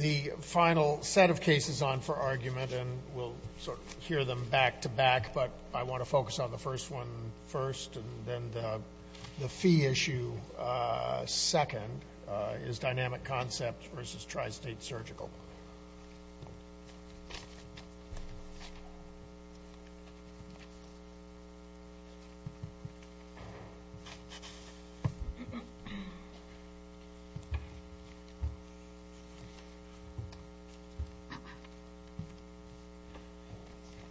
The final set of cases on for argument, and we'll sort of hear them back-to-back, but I want to focus on the first one first, and then the fee issue second is Dynamic Concepts v. Tri-State Surgical.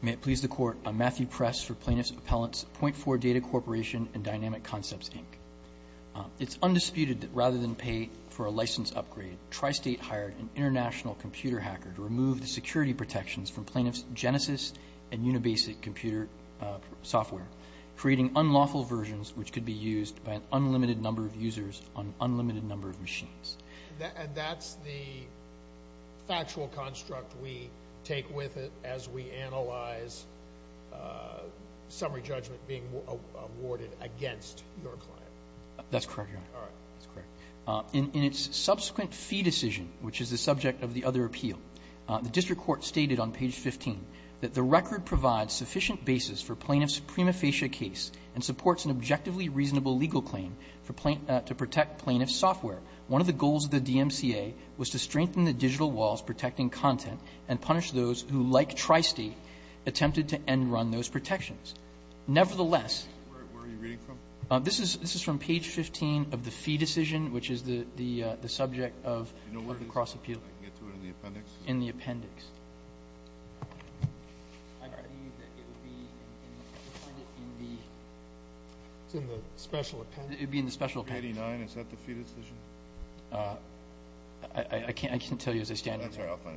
May it please the Court, I'm Matthew Press for Plaintiff's Appellant's Point 4 Data Corporation and Dynamic Concepts, Inc. It's undisputed that rather than pay for a license upgrade, Tri-State hired an international computer hacker to remove the security protections from Plaintiff's Genesys and Unibasic computer software, creating unlawful versions which could be used by an unlimited number of users on an unlimited number of machines. And that's the factual construct we take with it as we analyze summary judgment being awarded against your client? That's correct, Your Honor. All right. That's correct. In its subsequent fee decision, which is the subject of the other appeal, the district court stated on page 15 that the record provides sufficient basis for Plaintiff's prima facie case and supports an objectively reasonable legal claim to protect Plaintiff's software, one of the goals of the DMCA was to strengthen the digital walls protecting content and punish those who, like Tri-State, attempted to end-run those protections. Nevertheless... Where are you reading from? This is from page 15 of the fee decision, which is the subject of the cross-appeal. Do you know where this is? I can get to it in the appendix. In the appendix. I believe that it would be in the... It's in the special appendix. It would be in the special appendix. Page 189. Is that the fee decision? I can't tell you as I stand here. That's all right. I'll find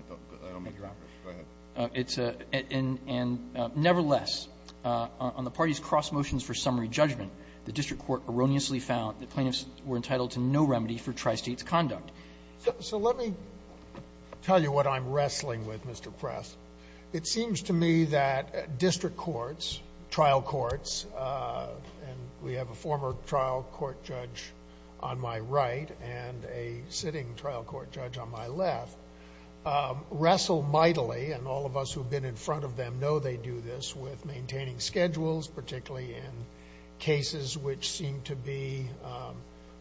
it. Go ahead. And nevertheless, on the party's cross motions for summary judgment, the district court erroneously found that plaintiffs were entitled to no remedy for Tri-State's So let me tell you what I'm wrestling with, Mr. Press. It seems to me that district courts, trial courts, and we have a former trial court judge on my right and a sitting trial court judge on my left, wrestle mightily, and all of us who've been in front of them know they do this, with maintaining schedules, particularly in cases which seem to be...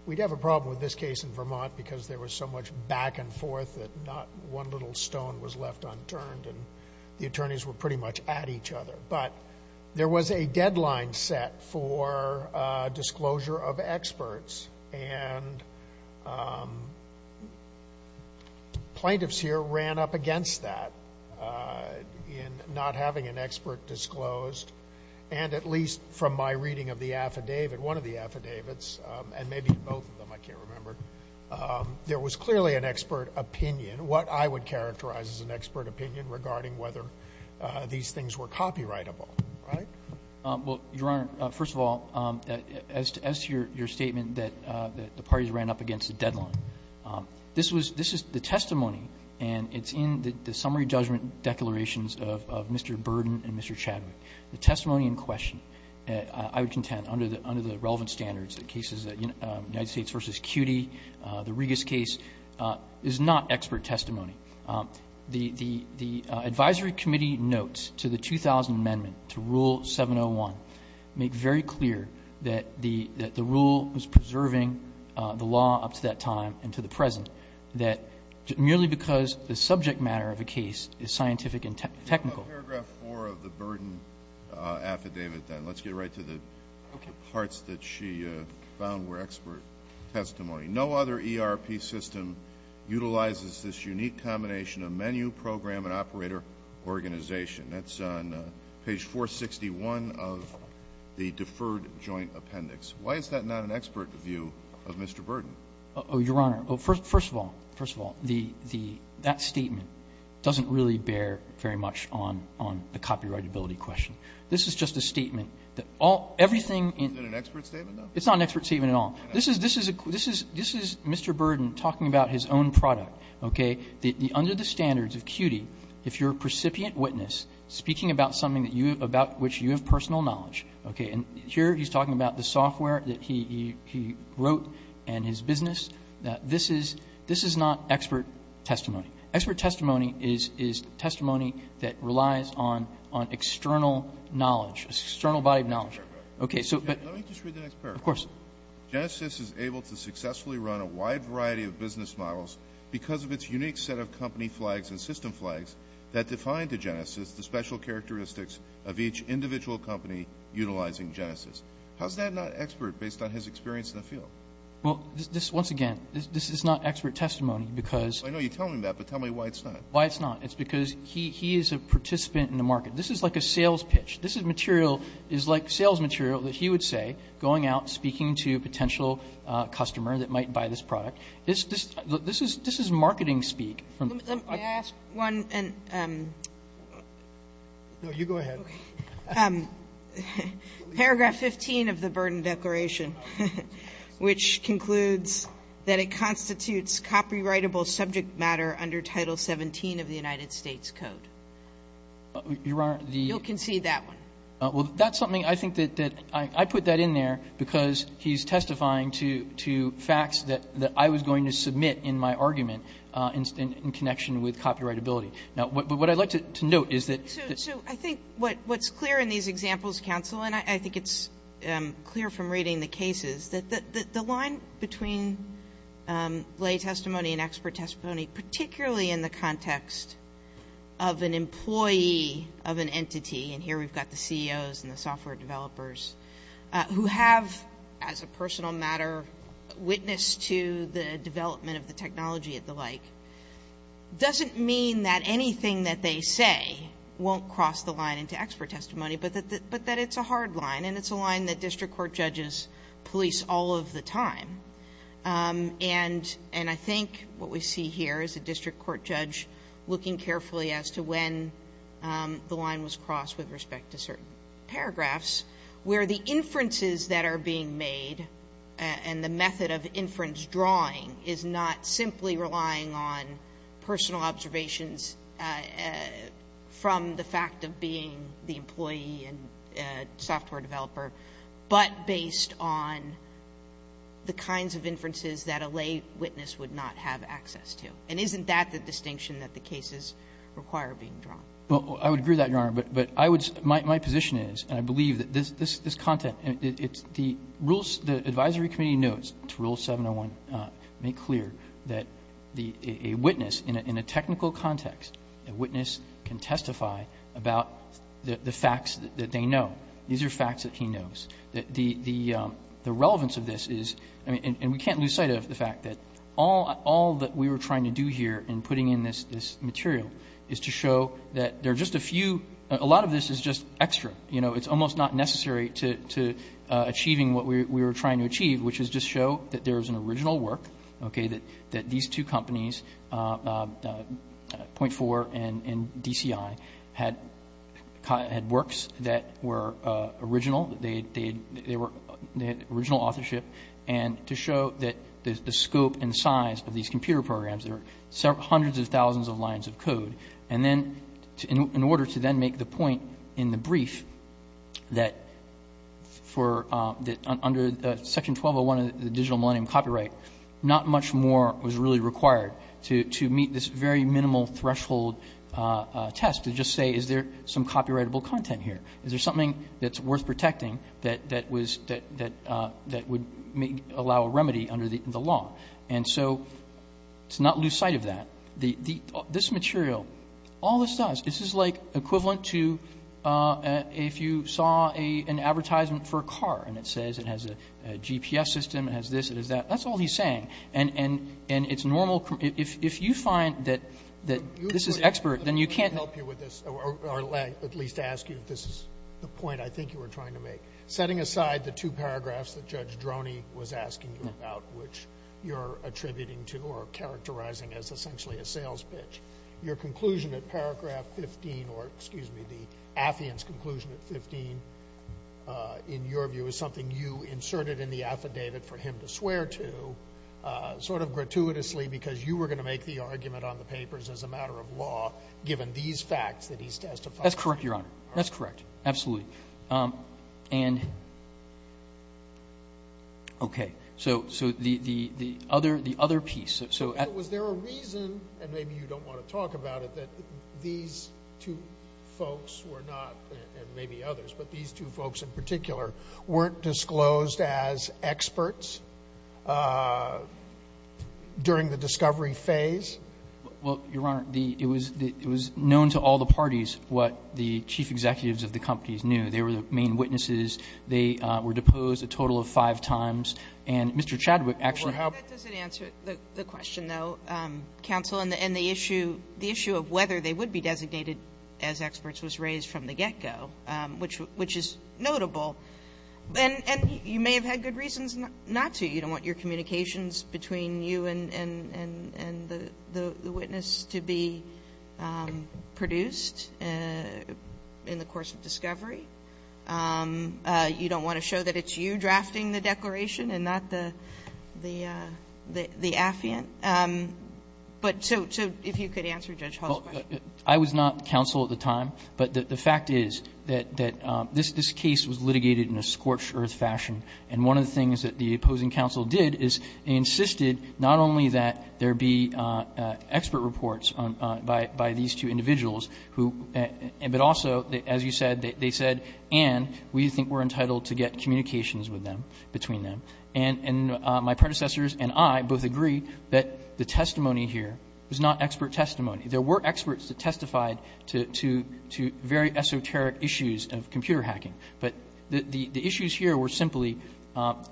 We'd have a problem with this case in Vermont because there was so much back and forth that not one little stone was left unturned, and the attorneys were pretty much at each other. But there was a deadline set for disclosure of experts, and plaintiffs here ran up against that in not having an expert disclosed. And at least from my reading of the affidavit, one of the affidavits, and maybe both of them, I can't remember, there was clearly an expert opinion, what I would characterize as an expert opinion regarding whether these things were copyrightable, right? Well, Your Honor, first of all, as to your statement that the parties ran up against a deadline, this was the testimony, and it's in the summary judgment declarations of Mr. Burden and Mr. Chadwick. The testimony in question, I would contend, under the relevant standards, the cases at United States v. CUNY, the Regas case, is not expert testimony. The advisory committee notes to the 2000 amendment to Rule 701 make very clear that the rule was preserving the law up to that time and to the present, that merely because the subject matter of a case is scientific and technical. Let's talk about paragraph 4 of the Burden affidavit then. Let's get right to the parts that she found were expert testimony. No other ERP system utilizes this unique combination of menu, program, and operator organization. That's on page 461 of the deferred joint appendix. Why is that not an expert view of Mr. Burden? Oh, Your Honor, first of all, first of all, that statement doesn't really bear very much on the copyrightability question. This is just a statement. Everything in the room. Is it an expert statement, though? It's not an expert statement at all. This is Mr. Burden talking about his own product. Okay? Under the standards of CUNY, if you're a precipient witness speaking about something that you have, about which you have personal knowledge, okay, and here he's talking about the software that he wrote and his business, this is not expert testimony. Expert testimony is testimony that relies on external knowledge, external body of knowledge. Let me just read the next paragraph. Of course. Genesys is able to successfully run a wide variety of business models because of its unique set of company flags and system flags that define to Genesys the special characteristics of each individual company utilizing Genesys. How is that not expert based on his experience in the field? Well, once again, this is not expert testimony because I know you're telling me that, but tell me why it's not. Why it's not. It's because he is a participant in the market. This is like a sales pitch. This material is like sales material that he would say going out speaking to a potential customer that might buy this product. This is marketing speak. Can I ask one? No, you go ahead. Okay. Paragraph 15 of the Burden Declaration, which concludes that it constitutes copyrightable subject matter under Title XVII of the United States Code. Your Honor, the. You'll concede that one. Well, that's something I think that I put that in there because he's testifying to facts that I was going to submit in my argument in connection with copyrightability. Now, what I'd like to note is that. So I think what's clear in these examples, counsel, and I think it's clear from reading the cases, that the line between lay testimony and expert testimony, particularly in the context of an employee of an entity, and here we've got the CEOs and the software developers, who have as a personal matter witnessed to the development of the technology and the like, doesn't mean that anything that they say won't cross the line into expert testimony, but that it's a hard line, and it's a line that district court judges police all of the time. And I think what we see here is a district court judge looking carefully as to when the line was crossed with respect to certain paragraphs, where the inferences that are being made and the method of inference drawing is not simply relying on personal observations from the fact of being the employee and software developer, but based on the kinds of inferences that a lay witness would not have access to. And isn't that the distinction that the cases require being drawn? Well, I would agree with that, Your Honor. But I would say my position is, and I believe that this content, it's the advisory committee notes, Rule 701, make clear that a witness in a technical context, a witness can testify about the facts that they know. These are facts that he knows. The relevance of this is, and we can't lose sight of the fact that all that we were trying to do here in putting in this material is to show that there are just a few, a lot of this is just extra. You know, it's almost not necessary to achieving what we were trying to achieve, which is just show that there is an original work, okay, that these two companies, .4 and DCI, had works that were original. They had original authorship. And to show that the scope and size of these computer programs, there are hundreds of thousands of lines of code. And then in order to then make the point in the brief that under Section 1201 of the Digital Millennium Copyright, not much more was really required to meet this very minimal threshold test to just say, is there some copyrightable content here? Is there something that's worth protecting that would allow a remedy under the law? And so to not lose sight of that. This material, all this does, this is like equivalent to if you saw an advertisement for a car and it says it has a GPS system, it has this, it has that. That's all he's saying. And it's normal. If you find that this is expert, then you can't help you with this, or at least ask you if this is the point I think you were trying to make. Setting aside the two paragraphs that Judge Droney was asking you about, which you're attributing to or characterizing as essentially a sales pitch, your conclusion at paragraph 15, or excuse me, the affidavit's conclusion at 15, in your view is something you inserted in the affidavit for him to swear to sort of gratuitously because you were going to make the argument on the papers as a matter of law given these facts that he testified. That's correct, Your Honor. That's correct. Absolutely. And, okay, so the other piece. So was there a reason, and maybe you don't want to talk about it, that these two folks were not, and maybe others, but these two folks in particular weren't disclosed as experts during the discovery phase? Well, Your Honor, it was known to all the parties what the chief executives of the companies knew. They were the main witnesses. They were deposed a total of five times. And Mr. Chadwick actually helped. That doesn't answer the question, though, counsel, and the issue of whether they would be designated as experts was raised from the get-go, which is notable. And you may have had good reasons not to. You don't want your communications between you and the witness to be produced in the course of discovery. You don't want to show that it's you drafting the declaration and not the affiant. But so if you could answer Judge Hall's question. I was not counsel at the time, but the fact is that this case was litigated in a scorched-earth fashion, and one of the things that the opposing counsel did is he insisted not only that there be expert reports by these two individuals, but also, as you said, they said, and we think we're entitled to get communications with them, between them. And my predecessors and I both agree that the testimony here was not expert testimony. There were experts that testified to very esoteric issues of computer hacking, but the issues here were simply,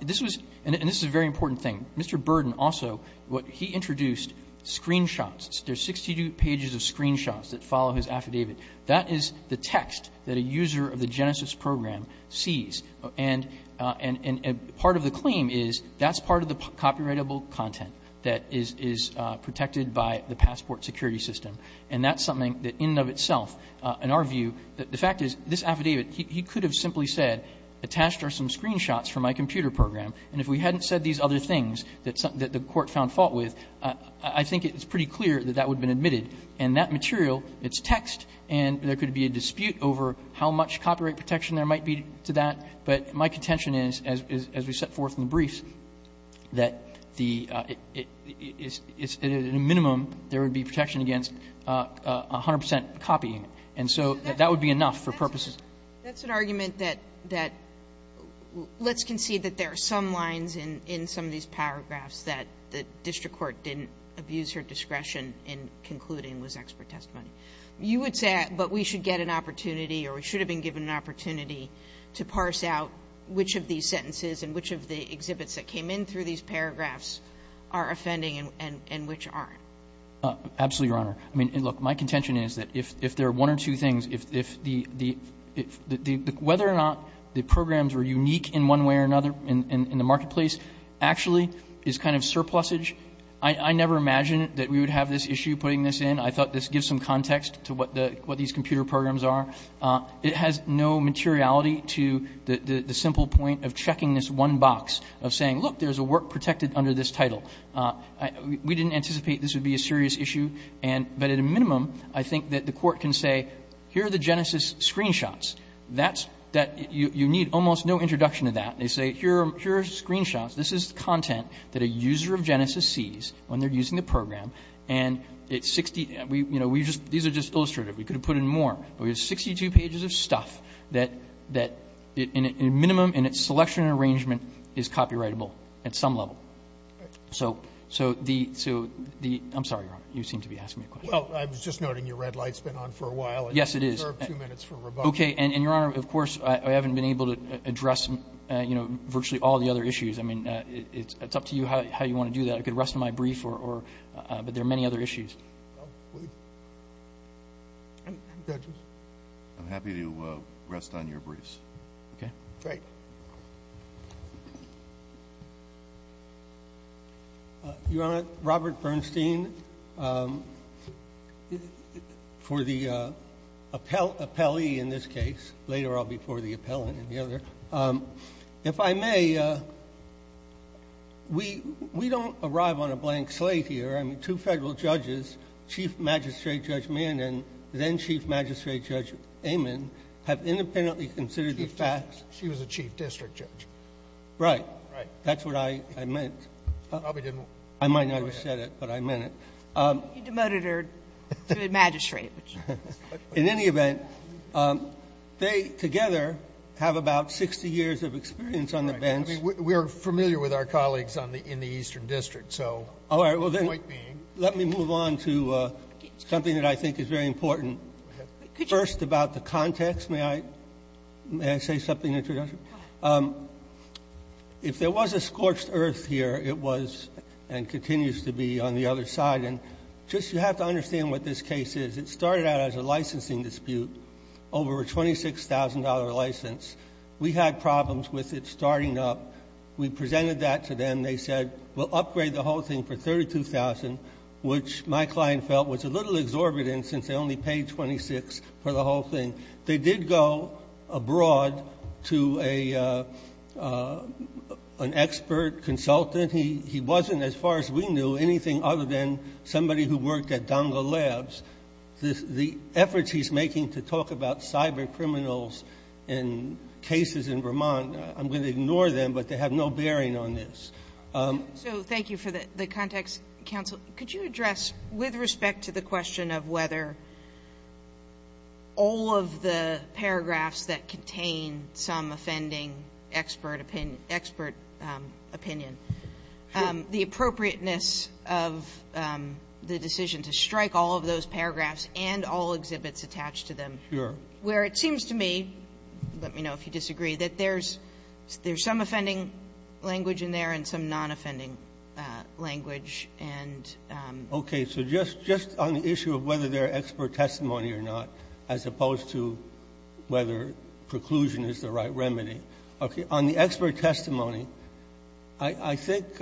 this was, and this is a very important thing, Mr. Burden also, he introduced screenshots. There are 62 pages of screenshots that follow his affidavit. That is the text that a user of the Genesis program sees. And part of the claim is that's part of the copyrightable content that is protected by the passport security system. And that's something that in and of itself, in our view, the fact is this affidavit, he could have simply said, attached are some screenshots from my computer program. And if we hadn't said these other things that the Court found fault with, I think it's pretty clear that that would have been admitted. And that material, it's text, and there could be a dispute over how much copyright protection there might be to that. But my contention is, as we set forth in the briefs, that the, it's, at a minimum, there would be protection against 100 percent copying. And so that would be enough for purposes. Sotomayor. That's an argument that, let's concede that there are some lines in some of these paragraphs that the district court didn't abuse her discretion in concluding was expert testimony. You would say, but we should get an opportunity or we should have been given an opportunity to parse out which of these sentences and which of the exhibits that came in through these paragraphs are offending and which aren't. Absolutely, Your Honor. I mean, look, my contention is that if there are one or two things, if the, whether or not the programs were unique in one way or another in the marketplace actually is kind of surplusage. I never imagined that we would have this issue putting this in. I thought this gives some context to what these computer programs are. It has no materiality to the simple point of checking this one box of saying, look, there's a work protected under this title. We didn't anticipate this would be a serious issue. But at a minimum, I think that the court can say, here are the Genesis screenshots. That's that you need almost no introduction to that. They say, here are screenshots. This is content that a user of Genesis sees when they're using the program. And it's 60, you know, we just, these are just illustrative. We could have put in more. But we have 62 pages of stuff that in a minimum in its selection and arrangement is copyrightable at some level. So the, I'm sorry, Your Honor, you seem to be asking me a question. Well, I was just noting your red light's been on for a while. Yes, it is. You have two minutes for rebuttal. Okay. And, Your Honor, of course, I haven't been able to address, you know, virtually all the other issues. I mean, it's up to you how you want to do that. I could rest on my brief, but there are many other issues. I'm happy to rest on your briefs. Okay. Great. Thank you. Your Honor, Robert Bernstein, for the appellee in this case, later I'll be for the appellant and the other. If I may, we don't arrive on a blank slate here. I mean, two federal judges, Chief Magistrate Judge Mann and then Chief Magistrate Judge Amon, have independently considered the facts. She was a chief district judge. Right. Right. That's what I meant. You probably didn't. I might not have said it, but I meant it. You demoted her to a magistrate. In any event, they together have about 60 years of experience on the bench. Right. I mean, we are familiar with our colleagues in the Eastern District, so the point being. All right. Well, then let me move on to something that I think is very important. Go ahead. Could you? First, about the context. First, may I say something? If there was a scorched earth here, it was and continues to be on the other side. And just you have to understand what this case is. It started out as a licensing dispute over a $26,000 license. We had problems with it starting up. We presented that to them. They said we'll upgrade the whole thing for $32,000, which my client felt was a little exorbitant since they only paid $26,000 for the whole thing. They did go abroad to an expert consultant. He wasn't, as far as we knew, anything other than somebody who worked at Donga Labs. The efforts he's making to talk about cyber criminals in cases in Vermont, I'm going to ignore them, but they have no bearing on this. So thank you for the context, counsel. Could you address, with respect to the question of whether all of the paragraphs that contain some offending expert opinion, the appropriateness of the decision to strike all of those paragraphs and all exhibits attached to them. Sure. Where it seems to me, let me know if you disagree, that there's some offending language in there and some nonoffending language. And so just on the issue of whether they're expert testimony or not, as opposed to whether preclusion is the right remedy, okay, on the expert testimony, I think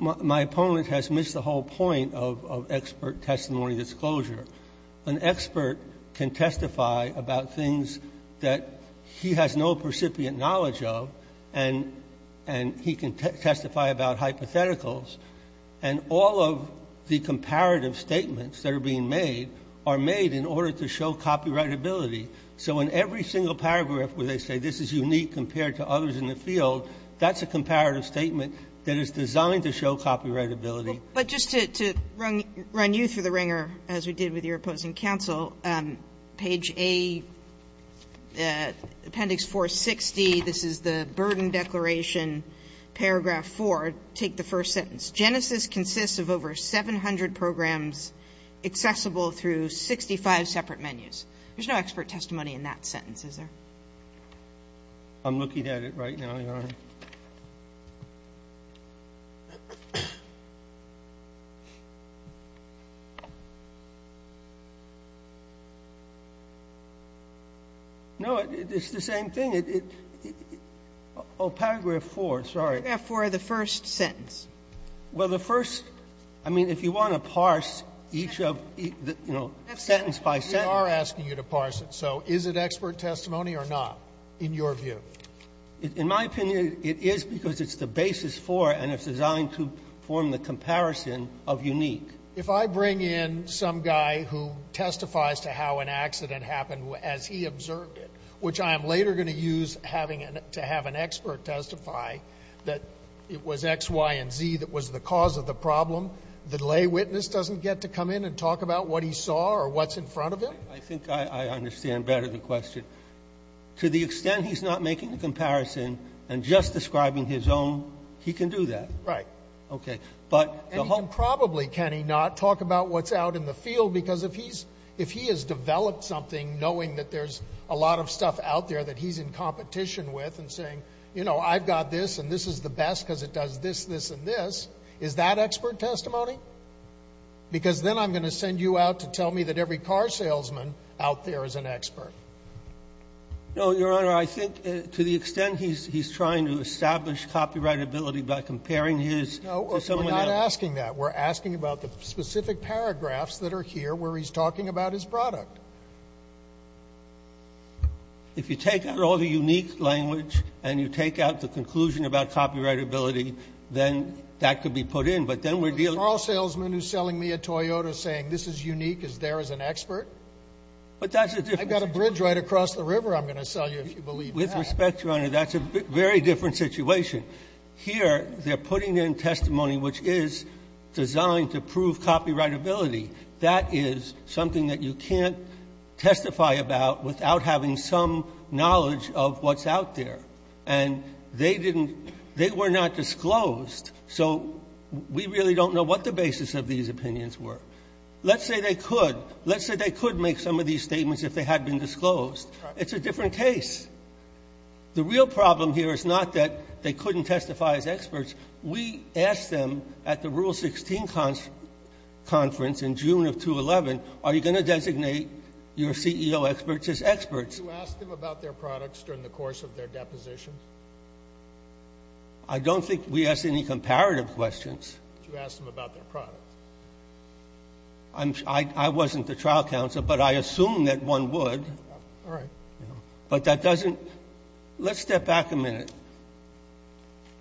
my opponent has missed the whole point of expert testimony disclosure. An expert can testify about things that he has no recipient knowledge of, and he can testify about hypotheticals, and all of the comparative statements that are being made are made in order to show copyrightability. So in every single paragraph where they say this is unique compared to others in the field, that's a comparative statement that is designed to show copyrightability. But just to run you through the wringer, as we did with your opposing counsel, page A, Appendix 460, this is the Burden Declaration, paragraph 4. Take the first sentence. Genesis consists of over 700 programs accessible through 65 separate menus. There's no expert testimony in that sentence, is there? I'm looking at it right now, Your Honor. No, it's the same thing. Oh, paragraph 4, sorry. Paragraph 4, the first sentence. Well, the first, I mean, if you want to parse each of, you know, sentence by sentence. We are asking you to parse it. So is it expert testimony or not, in your view? In my opinion, it is because it's the basis for and it's designed to form the comparison of unique. If I bring in some guy who testifies to how an accident happened as he observed it, which I am later going to use having an expert testify that it was X, Y, and Z that was the cause of the problem, the lay witness doesn't get to come in and talk about what he saw or what's in front of him? I think I understand better the question. To the extent he's not making a comparison and just describing his own, he can do that. Right. Okay. And he can probably, can he not, talk about what's out in the field? Because if he has developed something knowing that there's a lot of stuff out there that he's in competition with and saying, you know, I've got this and this is the best because it does this, this, and this, is that expert testimony? Because then I'm going to send you out to tell me that every car salesman out there is an expert. No, Your Honor, I think to the extent he's trying to establish copyrightability by comparing his to someone else. No, we're not asking that. We're asking about the specific paragraphs that are here where he's talking about his product. If you take out all the unique language and you take out the conclusion about copyrightability, then that could be put in, but then we're dealing with A car salesman who's selling me a Toyota saying this is unique is there as an expert? But that's a different thing. I got a bridge right across the river I'm going to sell you if you believe that. With respect, Your Honor, that's a very different situation. Here they're putting in testimony which is designed to prove copyrightability. That is something that you can't testify about without having some knowledge of what's out there. And they didn't they were not disclosed. So we really don't know what the basis of these opinions were. Let's say they could. Let's say they could make some of these statements if they had been disclosed. It's a different case. The real problem here is not that they couldn't testify as experts. We asked them at the Rule 16 conference in June of 2011, are you going to designate your CEO experts as experts? You asked them about their products during the course of their deposition? I don't think we asked any comparative questions. You asked them about their products. I wasn't the trial counsel, but I assume that one would. All right. But that doesn't let's step back a minute.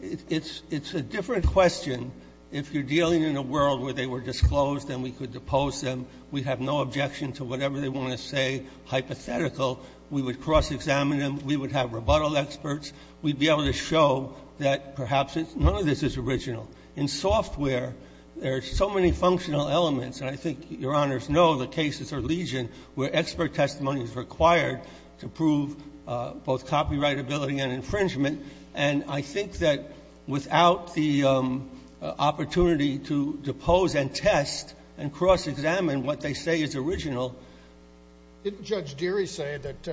It's a different question if you're dealing in a world where they were disclosed and we could depose them. We'd have no objection to whatever they want to say hypothetical. We would cross-examine them. We would have rebuttal experts. We'd be able to show that perhaps none of this is original. In software, there are so many functional elements, and I think Your Honors know that cases are legion where expert testimony is required to prove both copyright ability and infringement. And I think that without the opportunity to depose and test and cross-examine what they say is original. Didn't Judge Deary say that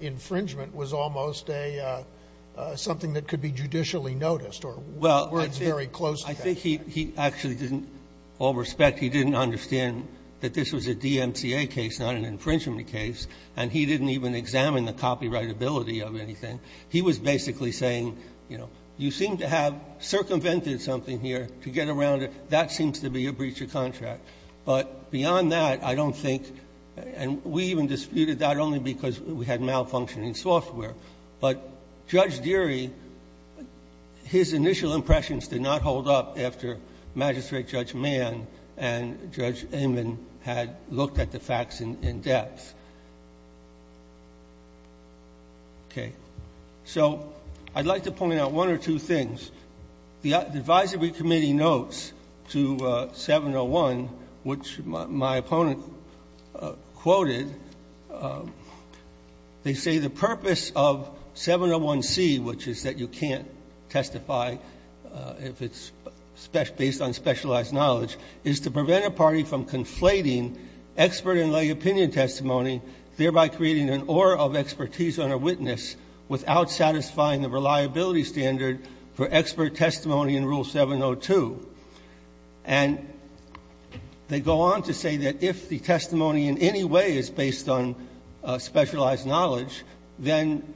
infringement was almost something that could be judicially noticed or words very close to that? Well, I think he actually didn't, all respect, he didn't understand that this was a DMCA case, not an infringement case, and he didn't even examine the copyright ability of anything. He was basically saying, you know, you seem to have circumvented something here to get around it. That seems to be a breach of contract. But beyond that, I don't think, and we even disputed that only because we had malfunctioning software. But Judge Deary, his initial impressions did not hold up after Magistrate Judge Mann and Judge Amin had looked at the facts in depth. Okay. So I'd like to point out one or two things. The advisory committee notes to 701, which my opponent quoted, they say the purpose of 701C, which is that you can't testify if it's based on specialized knowledge, is to prevent a party from conflating expert and lay opinion testimony, thereby creating an aura of expertise on a witness without satisfying the reliability standard for expert testimony in Rule 702. And they go on to say that if the testimony in any way is based on specialized knowledge, then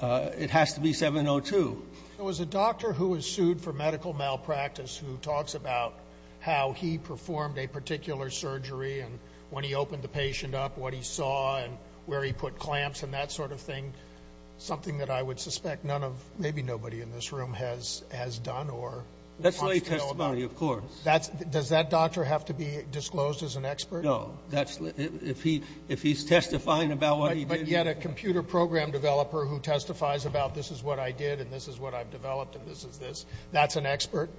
it has to be 702. It was a doctor who was sued for medical malpractice who talks about how he performed a particular surgery and when he opened the patient up, what he saw and where he put clamps and that sort of thing, something that I would suspect none of, maybe nobody in this room has done or wants to know about. That's lay testimony, of course. Does that doctor have to be disclosed as an expert? No. If he's testifying about what he did. And yet a computer program developer who testifies about this is what I did and this is what I've developed and this is this, that's an expert?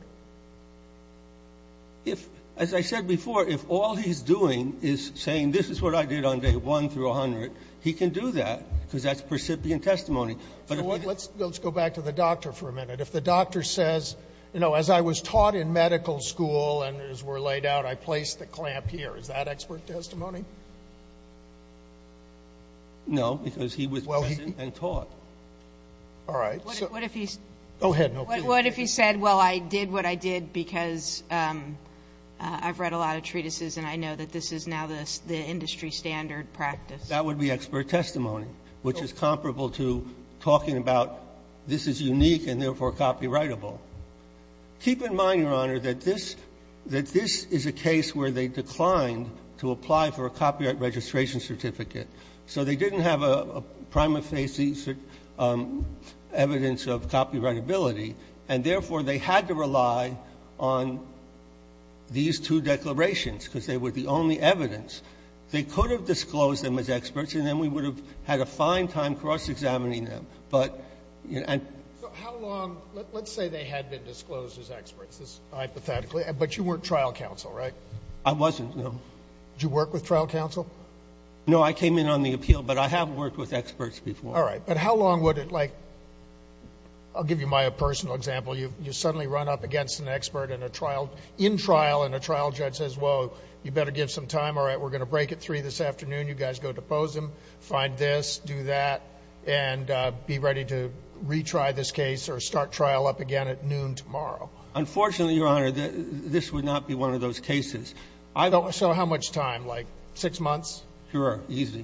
If, as I said before, if all he's doing is saying this is what I did on day 1 through 100, he can do that, because that's percipient testimony. But if he doesn't. So let's go back to the doctor for a minute. If the doctor says, you know, as I was taught in medical school and as we're laid out, I placed the clamp here, is that expert testimony? No, because he was present and taught. All right. Go ahead. What if he said, well, I did what I did because I've read a lot of treatises and I know that this is now the industry standard practice? That would be expert testimony, which is comparable to talking about this is unique and therefore copyrightable. Keep in mind, Your Honor, that this is a case where they declined to apply for a copyright registration certificate, so they didn't have a prima facie evidence of copyrightability. And therefore, they had to rely on these two declarations, because they were the only evidence. They could have disclosed them as experts and then we would have had a fine time cross-examining them. So how long? Let's say they had been disclosed as experts, hypothetically. But you weren't trial counsel, right? I wasn't, no. Did you work with trial counsel? No, I came in on the appeal, but I have worked with experts before. All right. But how long would it, like, I'll give you my personal example. You suddenly run up against an expert in a trial, in trial, and a trial judge says, well, you better give some time. All right, we're going to break at 3 this afternoon. You guys go depose him, find this, do that, and be ready to retry this case or start trial up again at noon tomorrow. Unfortunately, Your Honor, this would not be one of those cases. So how much time? Like six months? Sure, easy.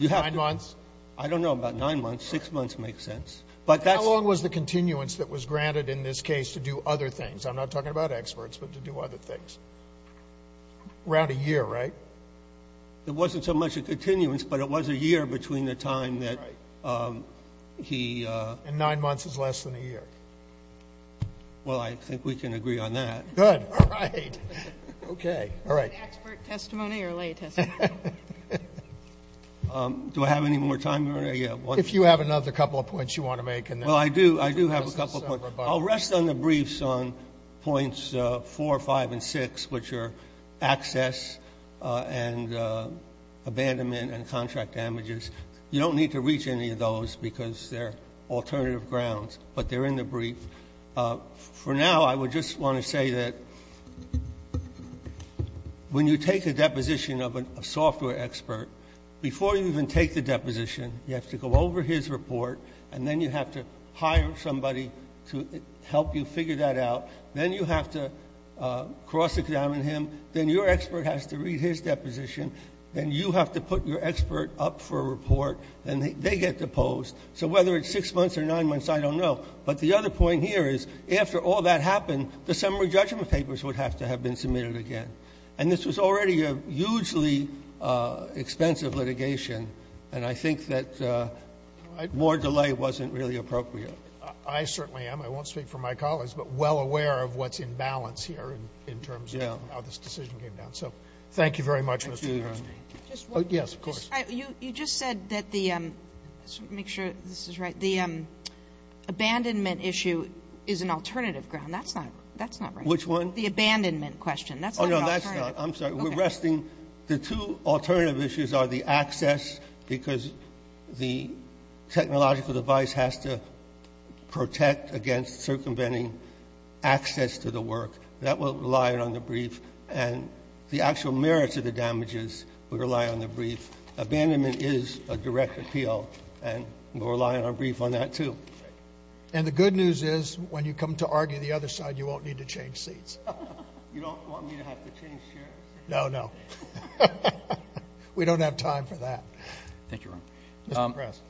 Nine months? I don't know about nine months. Six months makes sense. How long was the continuance that was granted in this case to do other things? I'm not talking about experts, but to do other things. Around a year, right? It wasn't so much a continuance, but it was a year between the time that he ---- And nine months is less than a year. Well, I think we can agree on that. Good. All right. Okay. All right. Expert testimony or lay testimony? Do I have any more time, Your Honor? If you have another couple of points you want to make. Well, I do. I do have a couple of points. I'll rest on the briefs on points four, five, and six, which are access and abandonment and contract damages. You don't need to reach any of those because they're alternative grounds, but they're in the brief. For now, I would just want to say that when you take a deposition of a software expert, before you even take the deposition, you have to go over his report, and then you have to hire somebody to help you figure that out. Then you have to cross-examine him. Then your expert has to read his deposition. Then you have to put your expert up for a report, and they get deposed. So whether it's six months or nine months, I don't know. But the other point here is, after all that happened, the summary judgment papers would have to have been submitted again. And this was already a hugely expensive litigation, and I think that more delay wasn't really appropriate. I certainly am. I won't speak for my colleagues, but well aware of what's in balance here in terms of how this decision came down. So thank you very much, Mr. Gershman. Thank you. Yes, of course. You just said that the — make sure this is right. The abandonment issue is an alternative ground. That's not right. Which one? The abandonment question. That's not an alternative. Oh, no, that's not. I'm sorry. We're resting. The two alternative issues are the access, because the technological device has to protect against circumventing access to the work. That will rely on the brief. And the actual merits of the damages will rely on the brief. Abandonment is a direct appeal, and we'll rely on our brief on that, too. And the good news is, when you come to argue the other side, you won't need to change seats. You don't want me to have to change chairs? No, no. We don't have time for that. Thank you, Ron. Mr. Press.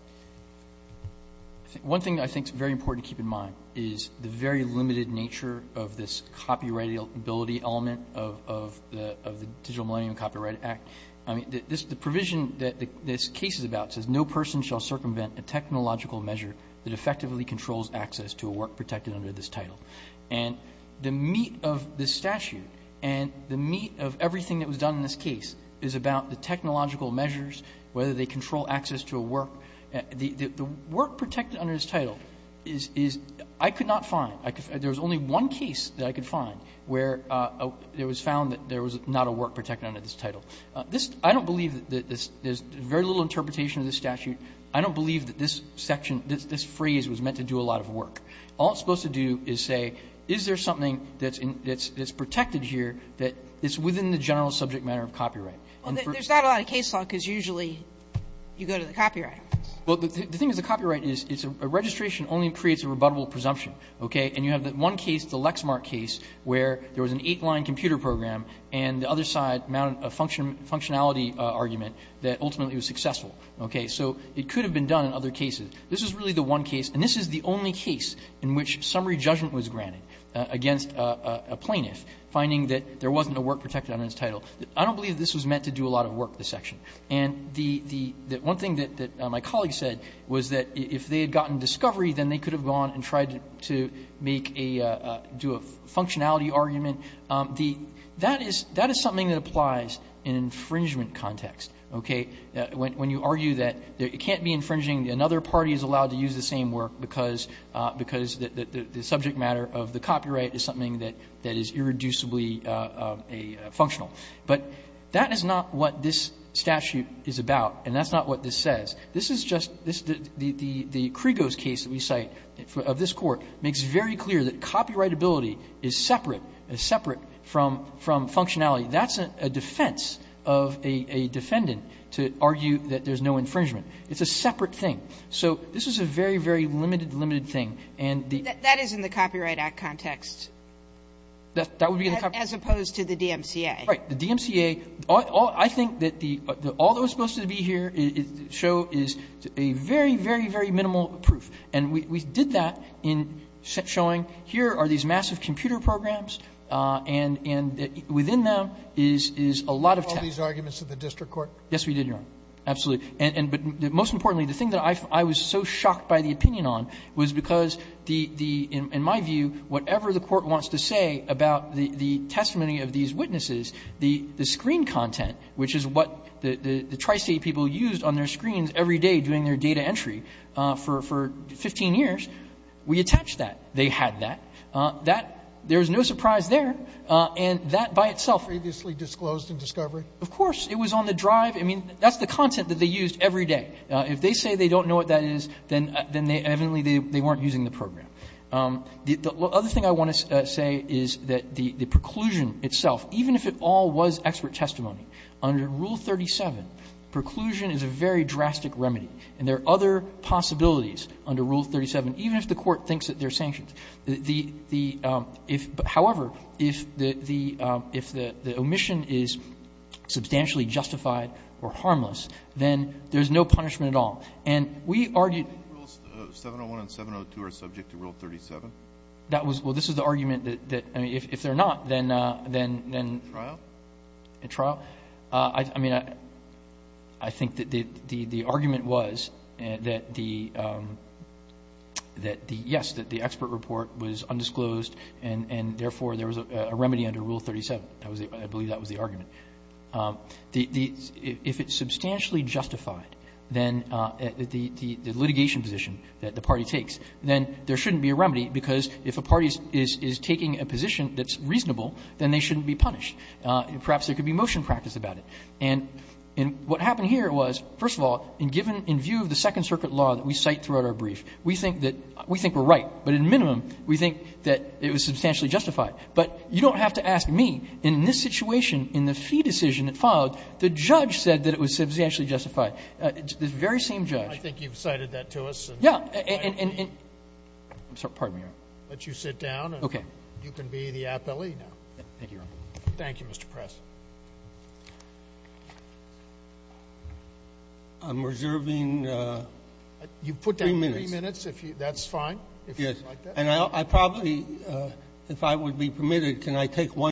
One thing I think is very important to keep in mind is the very limited nature of this copyrightability element of the Digital Millennium Copyright Act. I mean, the provision that this case is about says, no person shall circumvent a technological measure that effectively controls access to a work protected under this title. And the meat of this statute and the meat of everything that was done in this case is about the technological measures, whether they control access to a work. The work protected under this title is – I could not find – there was only one case that I could find where it was found that there was not a work protected under this title. This – I don't believe that this – there's very little interpretation of this statute. I don't believe that this section – this phrase was meant to do a lot of work. All it's supposed to do is say, is there something that's protected here that is within the general subject matter of copyright? Well, there's not a lot of case law because usually you go to the copyright office. Well, the thing is the copyright is a registration only creates a rebuttable presumption. Okay? And you have that one case, the Lexmark case, where there was an eight-line computer program and the other side mounted a functionality argument that ultimately was successful. Okay? So it could have been done in other cases. This is really the one case, and this is the only case in which summary judgment was granted against a plaintiff finding that there wasn't a work protected under this title. I don't believe this was meant to do a lot of work, this section. And the – the one thing that my colleague said was that if they had gotten discovery, then they could have gone and tried to make a – do a functionality argument. The – that is – that is something that applies in infringement context. Okay? When you argue that it can't be infringing, another party is allowed to use the same work because – because the subject matter of the copyright is something that is irreducibly a functional. But that is not what this statute is about, and that's not what this says. This is just – this – the Krigos case that we cite of this Court makes very clear that copyrightability is separate – is separate from functionality. That's a defense of a defendant to argue that there's no infringement. It's a separate thing. So this is a very, very limited, limited thing. And the – That is in the Copyright Act context. That would be in the Copyright Act. As opposed to the DMCA. Right. The DMCA – I think that the – all that was supposed to be here show is a very, very, very minimal proof. And we did that in showing here are these massive computer programs, and within them is – is a lot of text. Did you call these arguments to the district court? Yes, we did, Your Honor. Absolutely. And – but most importantly, the thing that I was so shocked by the opinion on was because the – in my view, whatever the court wants to say about the testimony of these witnesses, the screen content, which is what the Tri-State people used on their screens every day doing their data entry for 15 years, we attached that. They had that. That – there was no surprise there. And that by itself – Previously disclosed in discovery? Of course. It was on the drive. I mean, that's the content that they used every day. If they say they don't know what that is, then evidently they weren't using the program. The other thing I want to say is that the preclusion itself, even if it all was expert testimony, under Rule 37, preclusion is a very drastic remedy, and there are other possibilities under Rule 37, even if the court thinks that they're sanctions. The – if – however, if the – if the omission is substantially justified or harmless, then there's no punishment at all. And we argued – Do you think Rules 701 and 702 are subject to Rule 37? That was – well, this is the argument that – I mean, if they're not, then – In trial? In trial? I mean, I think that the argument was that the – that the – yes, that the expert report was undisclosed, and therefore there was a remedy under Rule 37. I believe that was the argument. The – if it's substantially justified, then the litigation position that the party takes, then there shouldn't be a remedy, because if a party is taking a position that's reasonable, then they shouldn't be punished. Perhaps there could be motion practice about it. And what happened here was, first of all, in given – in view of the Second Circuit law that we cite throughout our brief, we think that – we think we're right. But at a minimum, we think that it was substantially justified. But you don't have to ask me. In this situation, in the fee decision that followed, the judge said that it was substantially justified. The very same judge. I think you've cited that to us. Yeah. And – pardon me, Your Honor. I'll let you sit down, and you can be the appellee now. Thank you, Your Honor. Thank you, Mr. Press. I'm reserving three minutes. You've put down three minutes. That's fine, if you'd like that. Yes. And I probably – if I would be permitted, can I take one?